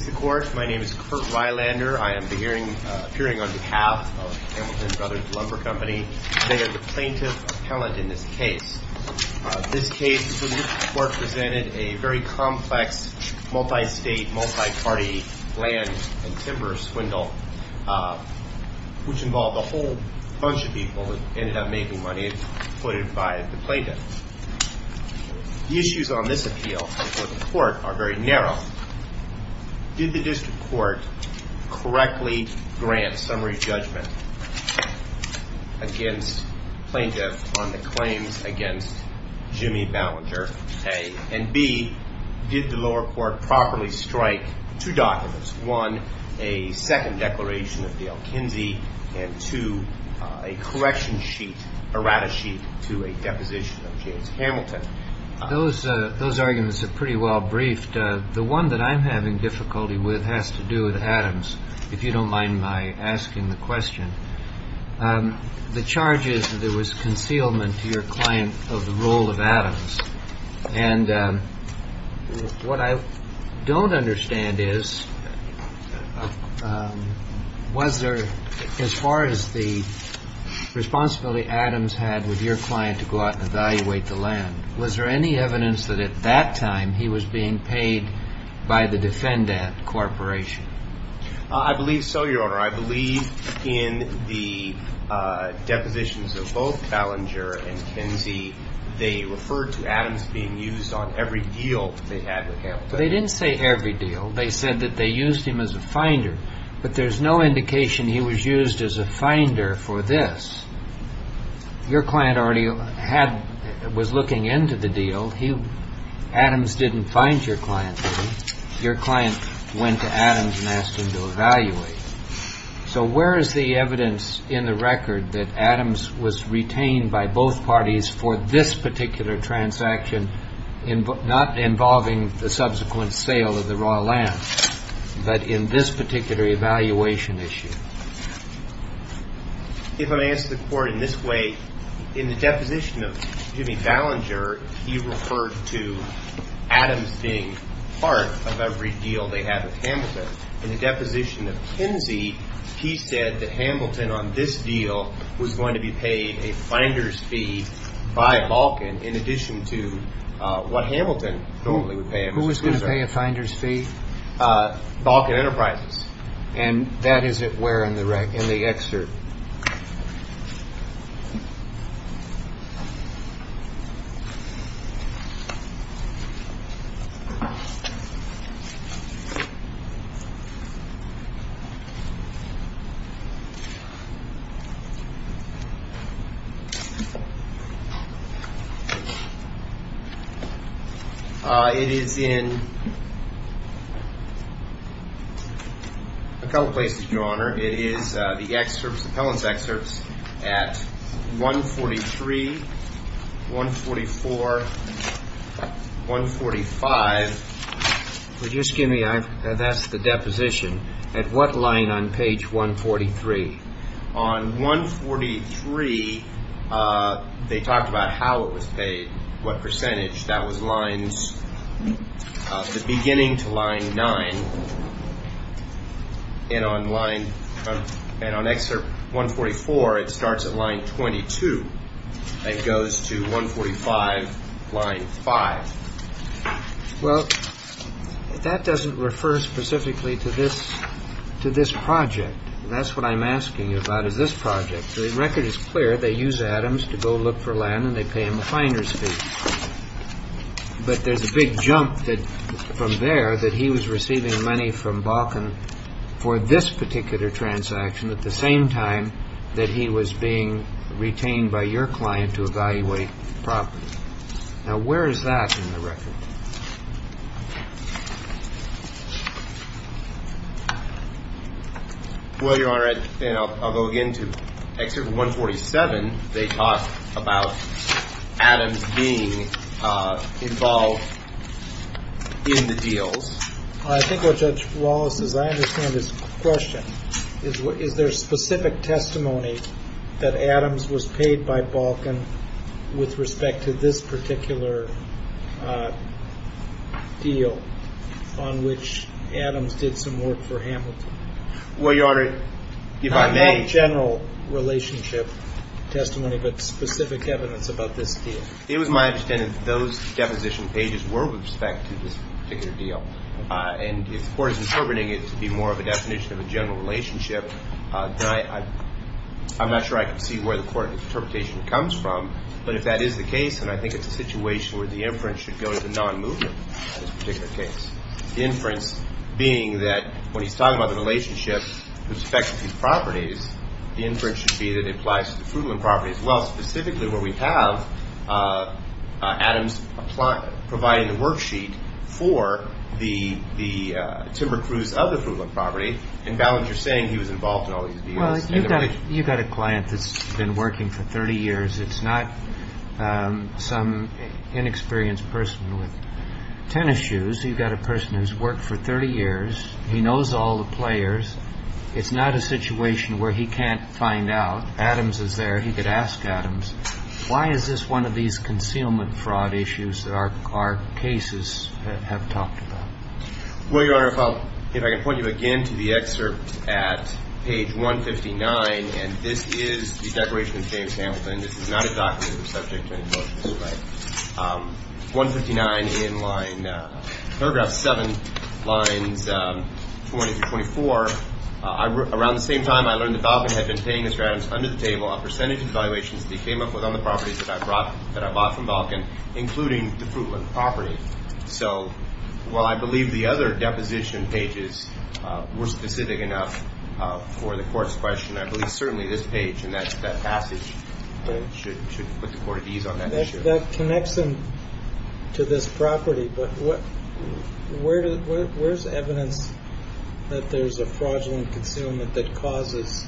Mr. Court, my name is Kurt Rylander. I am appearing on behalf of Hamilton Bros. Lumber Company. I am the plaintiff appellant in this case. This case, the court presented a very complex, multi-state, multi-party land and timber swindle, which involved a whole bunch of people and ended up making money, put it by the plaintiff. The issues on this appeal before the court are very narrow. Did the district court correctly grant summary judgment against plaintiff on the claims against Jimmy Ballinger, A, and B, did the lower court properly strike two documents, one, a second declaration of Dale Kinsey, and two, a correction sheet, errata sheet, to a deposition of James Hamilton? Those arguments are pretty well briefed. The one that I'm having difficulty with has to do with Adams, if you don't mind my asking the question. The charge is that there was concealment to your client of the role of Adams. And what I don't understand is, was there, as far as the responsibility Adams had with your client to go out and evaluate the land, was there any evidence that at that time he was being paid by the defendant corporation? I believe so, Your Honor. I believe in the depositions of both Ballinger and Kinsey, they referred to Adams being used on every deal they had with Hamilton. They didn't say every deal. They said that they used him as a finder. But there's no indication he was used as a finder for this. Your client already had, was looking into the deal. Adams didn't find your client. Your client went to Adams and asked him to evaluate. So where is the evidence in the record that Adams was retained by both parties for this particular transaction, not involving the subsequent sale of the raw land, but in this particular evaluation issue? If I may ask the Court in this way, in the deposition of Jimmy Ballinger, he referred to Adams being part of every deal they had with Hamilton. In the deposition of Kinsey, he said that Hamilton on this deal was going to be paid a finder's fee by Balkan, in addition to what Hamilton normally would pay. Who was going to pay a finder's fee? Balkan Enterprises. And that is where in the record in the excerpt. It is in a couple of places, Your Honor. It is the excerpts, the Pellon's excerpts at 143, 144, 145. Would you excuse me? That's the deposition. At what line on page 143? On 143, they talked about how it was paid, what percentage. That was the beginning to line 9. And on excerpt 144, it starts at line 22 and goes to 145, line 5. Well, that doesn't refer specifically to this project. That's what I'm asking you about, is this project. The record is clear. They use Adams to go look for land, and they pay him a finder's fee. But there's a big jump from there that he was receiving money from Balkan for this particular transaction, at the same time that he was being retained by your client to evaluate property. Now, where is that in the record? Well, Your Honor, I'll go again to excerpt 147. They talk about Adams being involved in the deals. I think what Judge Wallace is, I understand his question. Is there specific testimony that Adams was paid by Balkan with respect to this particular deal on which Adams did some work for Hamilton? Well, Your Honor, if I may. Not a general relationship testimony, but specific evidence about this deal. It was my understanding that those deposition pages were with respect to this particular deal. And if the court is interpreting it to be more of a definition of a general relationship, then I'm not sure I can see where the court's interpretation comes from. But if that is the case, then I think it's a situation where the inference should go to the non-movement in this particular case. The inference being that when he's talking about the relationship with respect to these properties, the inference should be that it applies to the Frugland properties. Well, specifically where we have Adams providing the worksheet for the timber crews of the Frugland property, and Ballinger saying he was involved in all these deals. Well, you've got a client that's been working for 30 years. It's not some inexperienced person with tennis shoes. You've got a person who's worked for 30 years. He knows all the players. It's not a situation where he can't find out. Adams is there. He could ask Adams, why is this one of these concealment fraud issues that our cases have talked about? Well, Your Honor, if I can point you again to the excerpt at page 159. And this is the declaration of James Hamilton. This is not a document that's subject to any motions. 159 in paragraph 7, lines 20 through 24. Around the same time, I learned that Balkan had been paying Mr. Adams under the table on percentage evaluations that he came up with on the properties that I bought from Balkan, including the Frugland property. So while I believe the other deposition pages were specific enough for the court's question, I believe certainly this page and that passage should put the court at ease on that issue. That connects him to this property. But where's evidence that there's a fraudulent concealment that causes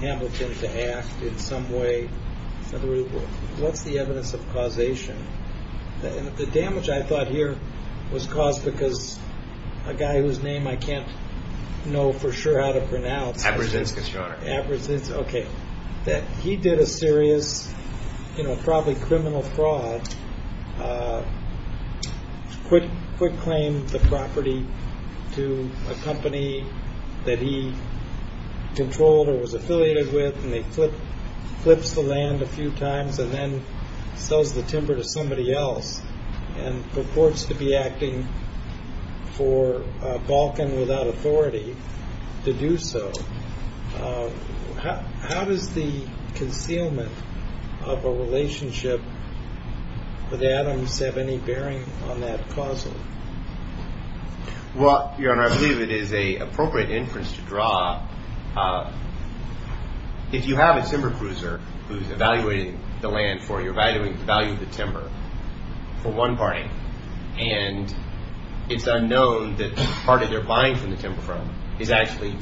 Hamilton to act in some way? What's the evidence of causation? The damage I thought here was caused because a guy whose name I can't know for sure how to pronounce. Abrazinskis, Your Honor. Abrazinskis, okay. He did a serious, you know, probably criminal fraud. Quick claimed the property to a company that he controlled or was affiliated with, and he flips the land a few times and then sells the timber to somebody else and purports to be acting for Balkan without authority to do so. How does the concealment of a relationship with Adams have any bearing on that causal? Well, Your Honor, I believe it is an appropriate inference to draw. If you have a timber cruiser who's evaluating the land for you, evaluating the value of the timber for one party, and it's unknown that part of their buying from the timber firm is actually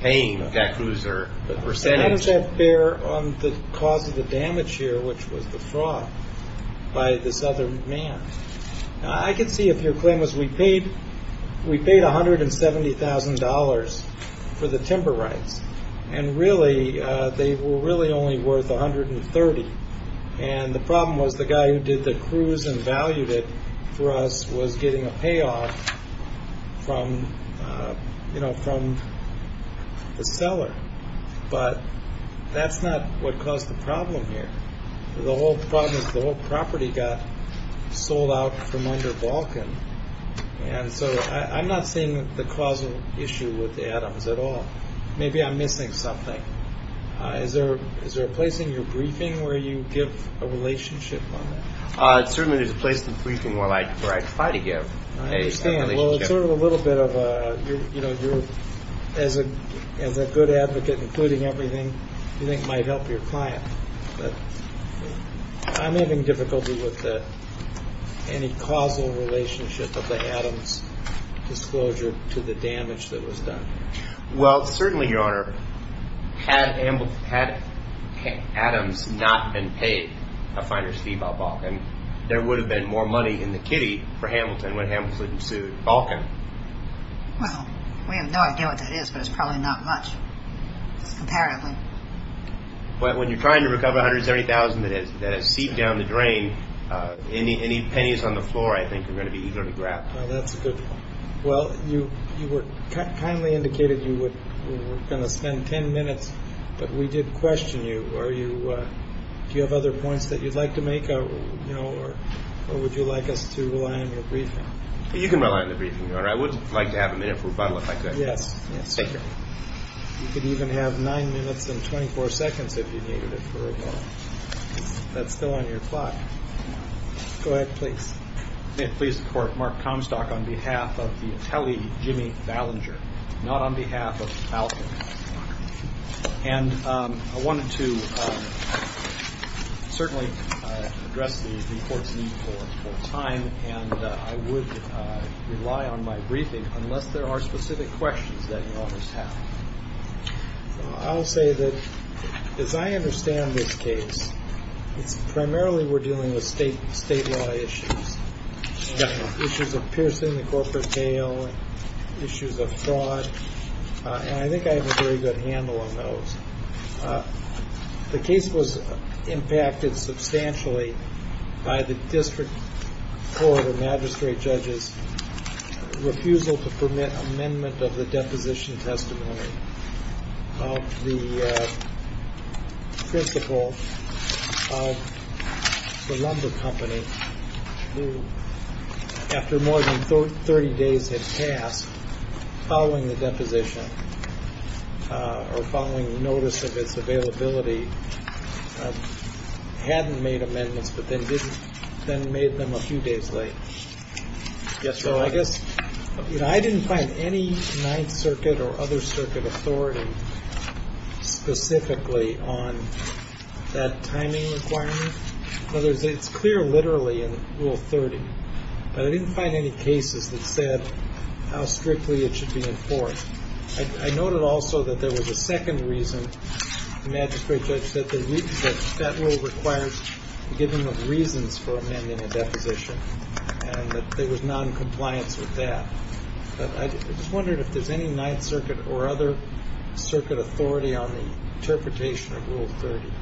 paying that cruiser a percentage. How does that bear on the cause of the damage here, which was the fraud by this other man? I can see if your claim was we paid $170,000 for the timber rights, and really they were really only worth $130,000. And the problem was the guy who did the cruise and valued it for us was getting a payoff from the seller. But that's not what caused the problem here. The whole problem is the whole property got sold out from under Balkan. And so I'm not seeing the causal issue with Adams at all. Maybe I'm missing something. Is there a place in your briefing where you give a relationship on that? Certainly there's a place in the briefing where I try to give a relationship. Well, it's sort of a little bit of a, you know, as a good advocate, including everything you think might help your client. But I'm having difficulty with any causal relationship of the Adams disclosure to the damage that was done. Well, certainly, Your Honor, had Adams not been paid a finer fee by Balkan, there would have been more money in the kitty for Hamilton when Hamilton sued Balkan. Well, we have no idea what that is, but it's probably not much, apparently. But when you're trying to recover $170,000 that has seeped down the drain, any pennies on the floor, I think, are going to be easier to grab. Well, that's a good point. Well, you were kindly indicated you were going to spend 10 minutes, but we did question you. Do you have other points that you'd like to make, or would you like us to rely on your briefing? You can rely on the briefing, Your Honor. I would like to have a minute for rebuttal, if I could. Yes, yes. Thank you. You can even have 9 minutes and 24 seconds if you needed it for a while. That's still on your clock. Go ahead, please. May it please the Court, Mark Comstock on behalf of the attellee Jimmy Ballinger, not on behalf of Balkan. And I wanted to certainly address the Court's need for time, and I would rely on my briefing unless there are specific questions that you almost have. I'll say that, as I understand this case, it's primarily we're dealing with state law issues. Definitely. Issues of piercing the corporate bail, issues of fraud. And I think I have a very good handle on those. The case was impacted substantially by the district court or magistrate judge's refusal to permit amendment of the deposition testimony. of the principal of the lumber company who, after more than 30 days had passed, following the deposition or following notice of its availability, hadn't made amendments but then made them a few days late. Yes, Your Honor. I guess I didn't find any Ninth Circuit or other circuit authority specifically on that timing requirement. In other words, it's clear literally in Rule 30. But I didn't find any cases that said how strictly it should be enforced. I noted also that there was a second reason the magistrate judge said that that rule requires giving of reasons for amending a deposition and that there was noncompliance with that. But I just wondered if there's any Ninth Circuit or other circuit authority on the interpretation of Rule 30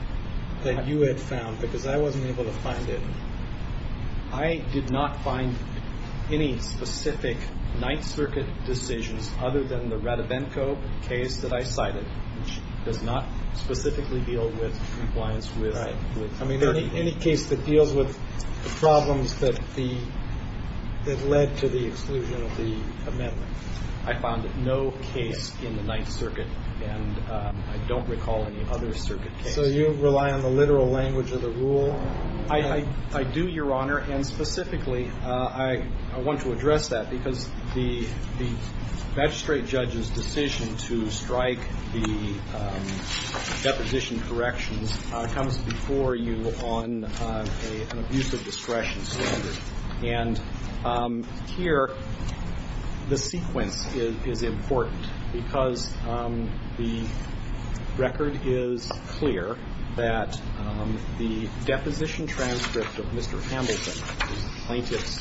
that you had found, because I wasn't able to find it. I did not find any specific Ninth Circuit decisions other than the Ratavenco case that I cited, which does not specifically deal with compliance with Rule 30. I mean, any case that deals with the problems that led to the exclusion of the amendment. I found no case in the Ninth Circuit, and I don't recall any other circuit case. So you rely on the literal language of the rule? I do, Your Honor. And specifically, I want to address that because the magistrate judge's decision to strike the deposition corrections comes before you on an abusive discretion standard. And here, the sequence is important because the record is clear that the deposition transcript of Mr. Hamilton, the plaintiff's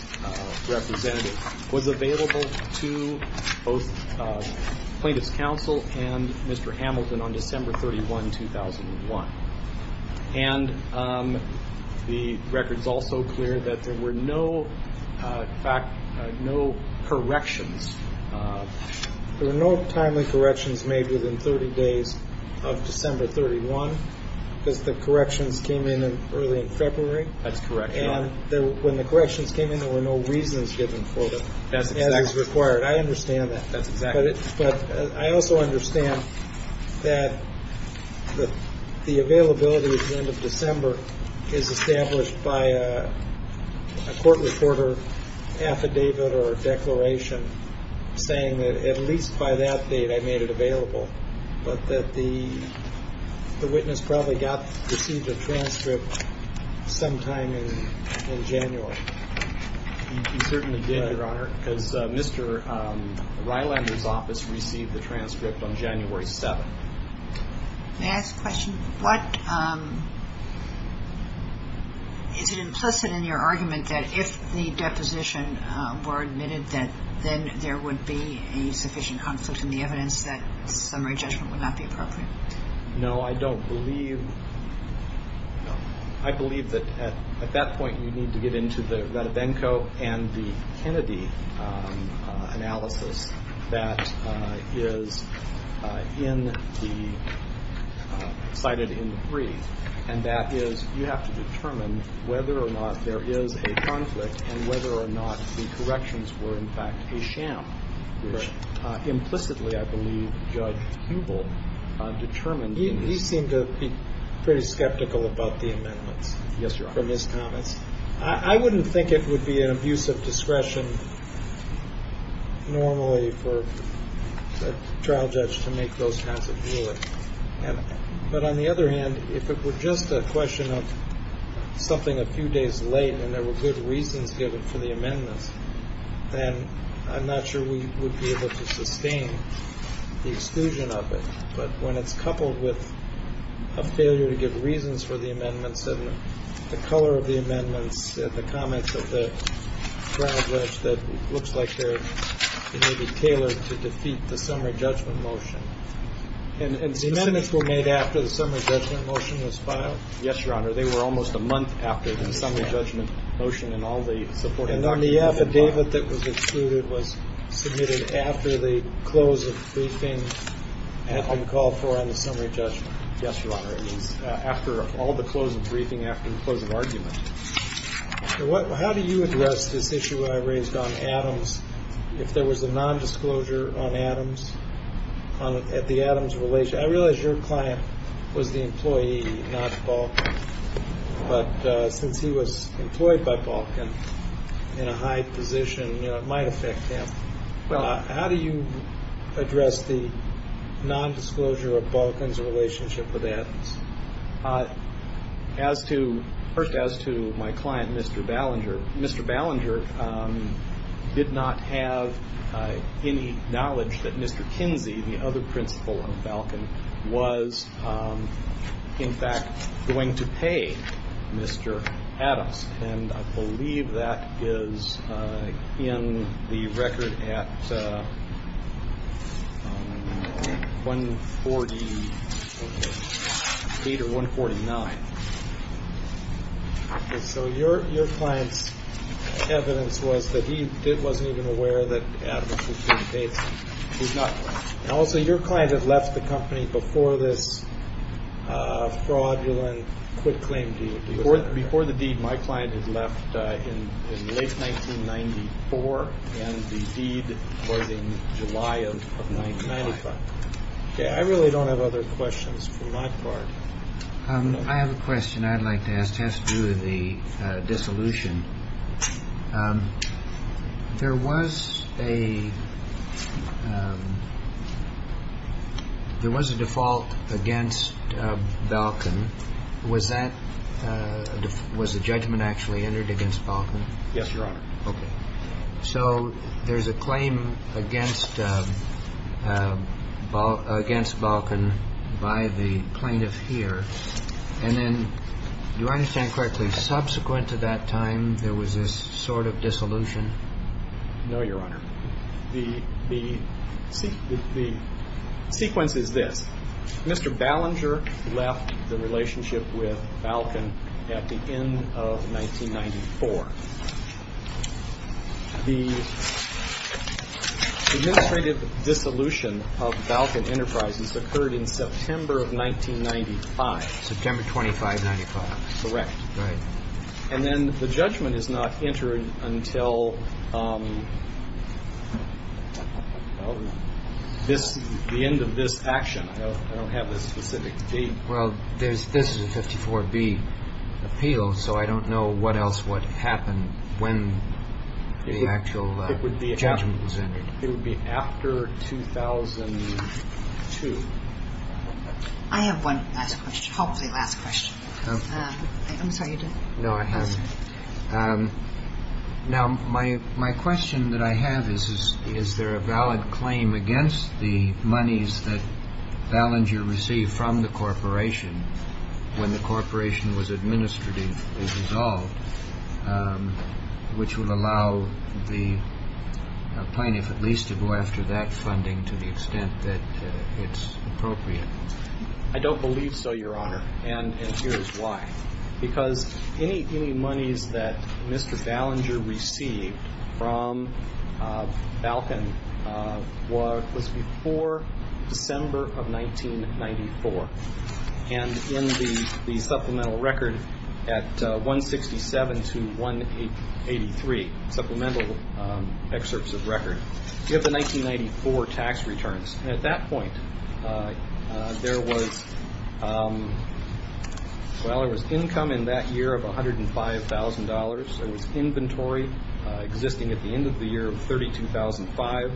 representative, was available to both plaintiff's counsel and Mr. Hamilton on December 31, 2001. And the record's also clear that there were no corrections. There were no timely corrections made within 30 days of December 31 because the corrections came in early in February. That's correct, Your Honor. And when the corrections came in, there were no reasons given for them as is required. I understand that. That's exact. But I also understand that the availability at the end of December is established by a court reporter affidavit or declaration saying that at least by that date I made it available, but that the witness probably received a transcript sometime in January. He certainly did, Your Honor, because Mr. Rylander's office received the transcript on January 7th. May I ask a question? What – is it implicit in your argument that if the deposition were admitted, that then there would be a sufficient conflict in the evidence that summary judgment would not be appropriate? No, I don't believe – I believe that at that point you need to get into the Ratavenco and the Kennedy analysis that is in the – cited in the brief, and that is you have to determine whether or not there is a conflict and whether or not the corrections were, in fact, a sham. Implicitly, I believe Judge Hubel determined in his – He seemed to be pretty skeptical about the amendments. Yes, Your Honor. From his comments. I wouldn't think it would be an abuse of discretion normally for a trial judge to make those kinds of rulings. But on the other hand, if it were just a question of something a few days late and there were good reasons given for the amendments, then I'm not sure we would be able to sustain the exclusion of it. But when it's coupled with a failure to give reasons for the amendments and the color of the amendments and the comments of the trial judge that looks like they're maybe tailored to defeat the summary judgment motion. And the amendments were made after the summary judgment motion was filed? Yes, Your Honor. They were almost a month after the summary judgment motion and all the supporting documents. And then the affidavit that was excluded was submitted after the close of briefing and called for on the summary judgment? Yes, Your Honor. It was after all the close of briefing, after the close of argument. How do you address this issue that I raised on Adams? If there was a nondisclosure on Adams, at the Adams relation? I realize your client was the employee, not Balkan. But since he was employed by Balkan in a high position, it might affect him. How do you address the nondisclosure of Balkan's relationship with Adams? First, as to my client, Mr. Ballinger, did not have any knowledge that Mr. Kinsey, the other principal of Balkan, was in fact going to pay Mr. Adams. And I believe that is in the record at 148 or 149. So your client's evidence was that he wasn't even aware that Adams was being paid. Also, your client had left the company before this fraudulent quick claim deed. Before the deed, my client had left in late 1994, and the deed was in July of 1995. I really don't have other questions for my part. I have a question I'd like to ask, just due to the dissolution. There was a default against Balkan. Was the judgment actually entered against Balkan? Yes, Your Honor. Okay. So there's a claim against Balkan by the plaintiff here. And then, do I understand correctly, subsequent to that time, there was this sort of dissolution? No, Your Honor. The sequence is this. Mr. Ballinger left the relationship with Balkan at the end of 1994. The administrative dissolution of Balkan Enterprises occurred in September of 1995. September 25, 1995. Correct. Right. And then the judgment is not entered until the end of this action. I don't have a specific date. Well, this is a 54B appeal, so I don't know what else would happen when the actual judgment was entered. It would be after 2002. I have one last question, hopefully last question. I'm sorry. No, I haven't. Now, my question that I have is, is there a valid claim against the monies that Ballinger received from the corporation when the corporation was administratively dissolved, which would allow the plaintiff at least to go after that funding to the extent that it's appropriate? I don't believe so, Your Honor. And here's why. Because any monies that Mr. Ballinger received from Balkan was before December of 1994. And in the supplemental record at 167 to 183, supplemental excerpts of record, you have the 1994 tax returns. And at that point, there was, well, there was income in that year of $105,000. There was inventory existing at the end of the year of $32,500.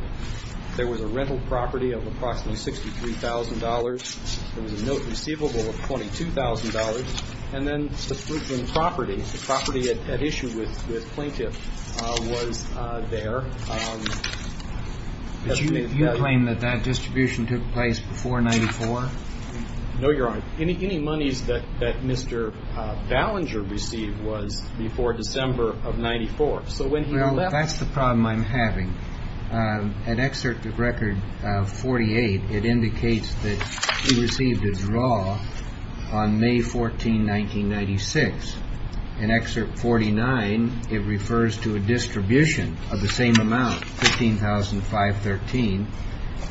There was a rental property of approximately $63,000. There was a note receivable of $22,000. And then the property, the property at issue with plaintiff was there. But you claim that that distribution took place before 94? No, Your Honor. Any monies that Mr. Ballinger received was before December of 94. Well, that's the problem I'm having. At excerpt of record 48, it indicates that he received a draw on May 14, 1996. In excerpt 49, it refers to a distribution of the same amount, $15,513.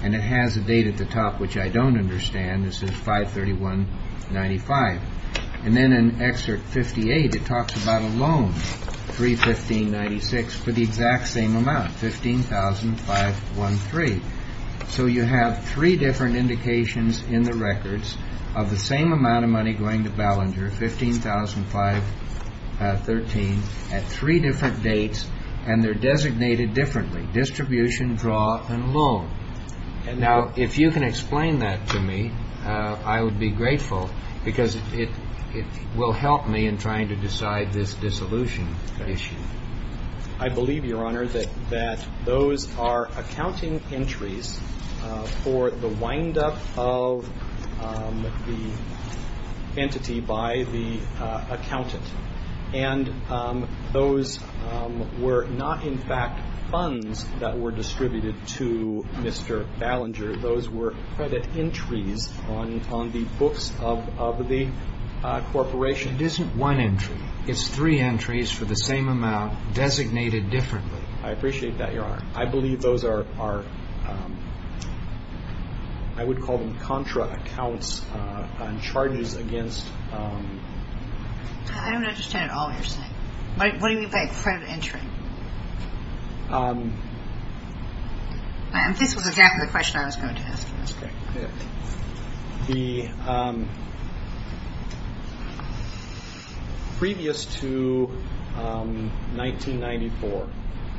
And it has a date at the top, which I don't understand. This is 5-31-95. And then in excerpt 58, it talks about a loan, 3-15-96, for the exact same amount, $15,513. So you have three different indications in the records of the same amount of money going to Ballinger, $15,513, at three different dates, and they're designated differently, distribution, draw, and loan. Now, if you can explain that to me, I would be grateful, because it will help me in trying to decide this dissolution issue. I believe, Your Honor, that those are accounting entries for the windup of the entity by the accountant. And those were not, in fact, funds that were distributed to Mr. Ballinger. Those were credit entries on the books of the corporation. It isn't one entry. It's three entries for the same amount, designated differently. I appreciate that, Your Honor. I believe those are, I would call them contra accounts on charges against. I don't understand at all what you're saying. What do you mean by credit entry? This was exactly the question I was going to ask you. Previous to 1994,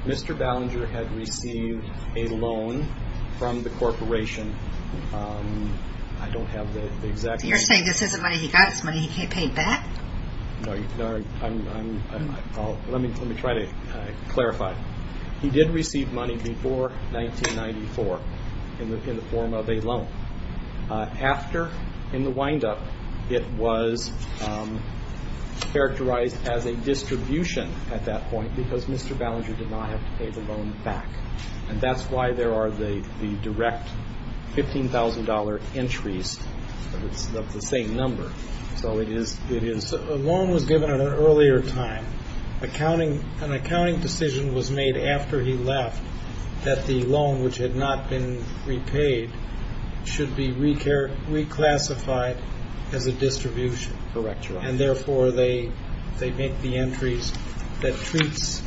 Mr. Ballinger had received a loan from the corporation. I don't have the exact number. You're saying this isn't money he got, it's money he paid back? Let me try to clarify. He did receive money before 1994 in the form of a loan. After, in the windup, it was characterized as a distribution at that point, because Mr. Ballinger did not have to pay the loan back. And that's why there are the direct $15,000 entries of the same number. So a loan was given at an earlier time. An accounting decision was made after he left that the loan, which had not been repaid, should be reclassified as a distribution. Correct, Your Honor. And, therefore, they make the entries that treats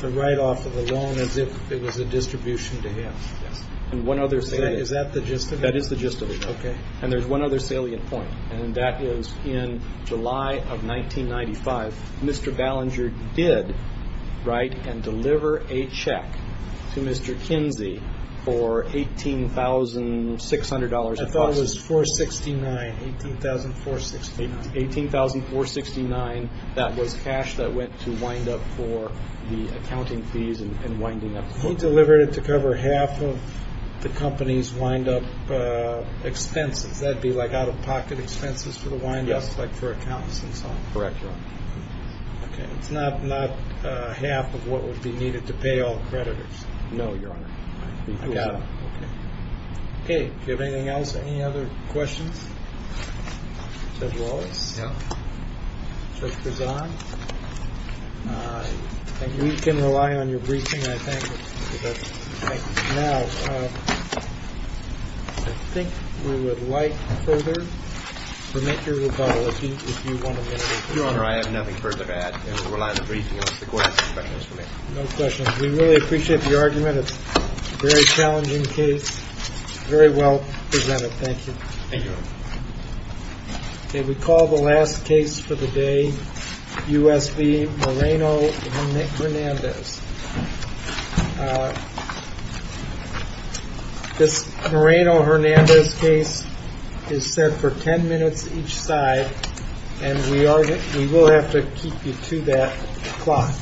the write-off of the loan as if it was a distribution to him. Yes. Is that the gist of it? That is the gist of it. Okay. And there's one other salient point. And that is in July of 1995, Mr. Ballinger did write and deliver a check to Mr. Kinsey for $18,600. I thought it was $18,469. $18,469. That was cash that went to windup for the accounting fees and winding up the court. He delivered it to cover half of the company's windup expenses. Does that be like out-of-pocket expenses for the windup? Yes. Like for accounts and so on? Correct, Your Honor. Okay. It's not half of what would be needed to pay all creditors. No, Your Honor. I got it. Okay. Okay. Do you have anything else? Any other questions? Judge Wallace? No. Judge Grizan? No. Thank you. We can rely on your briefing, I think. Thank you. Now, I think we would like further to make your rebuttal, if you want to make it. Your Honor, I have nothing further to add. It would rely on the briefing. The question is for me. No questions. We really appreciate the argument. It's a very challenging case. Very well presented. Thank you. Thank you, Your Honor. Okay. We call the last case for the day, U.S. v. Moreno and Nick Hernandez. This Moreno-Hernandez case is set for 10 minutes each side, and we will have to keep you to that clock.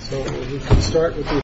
So, we can start with you first.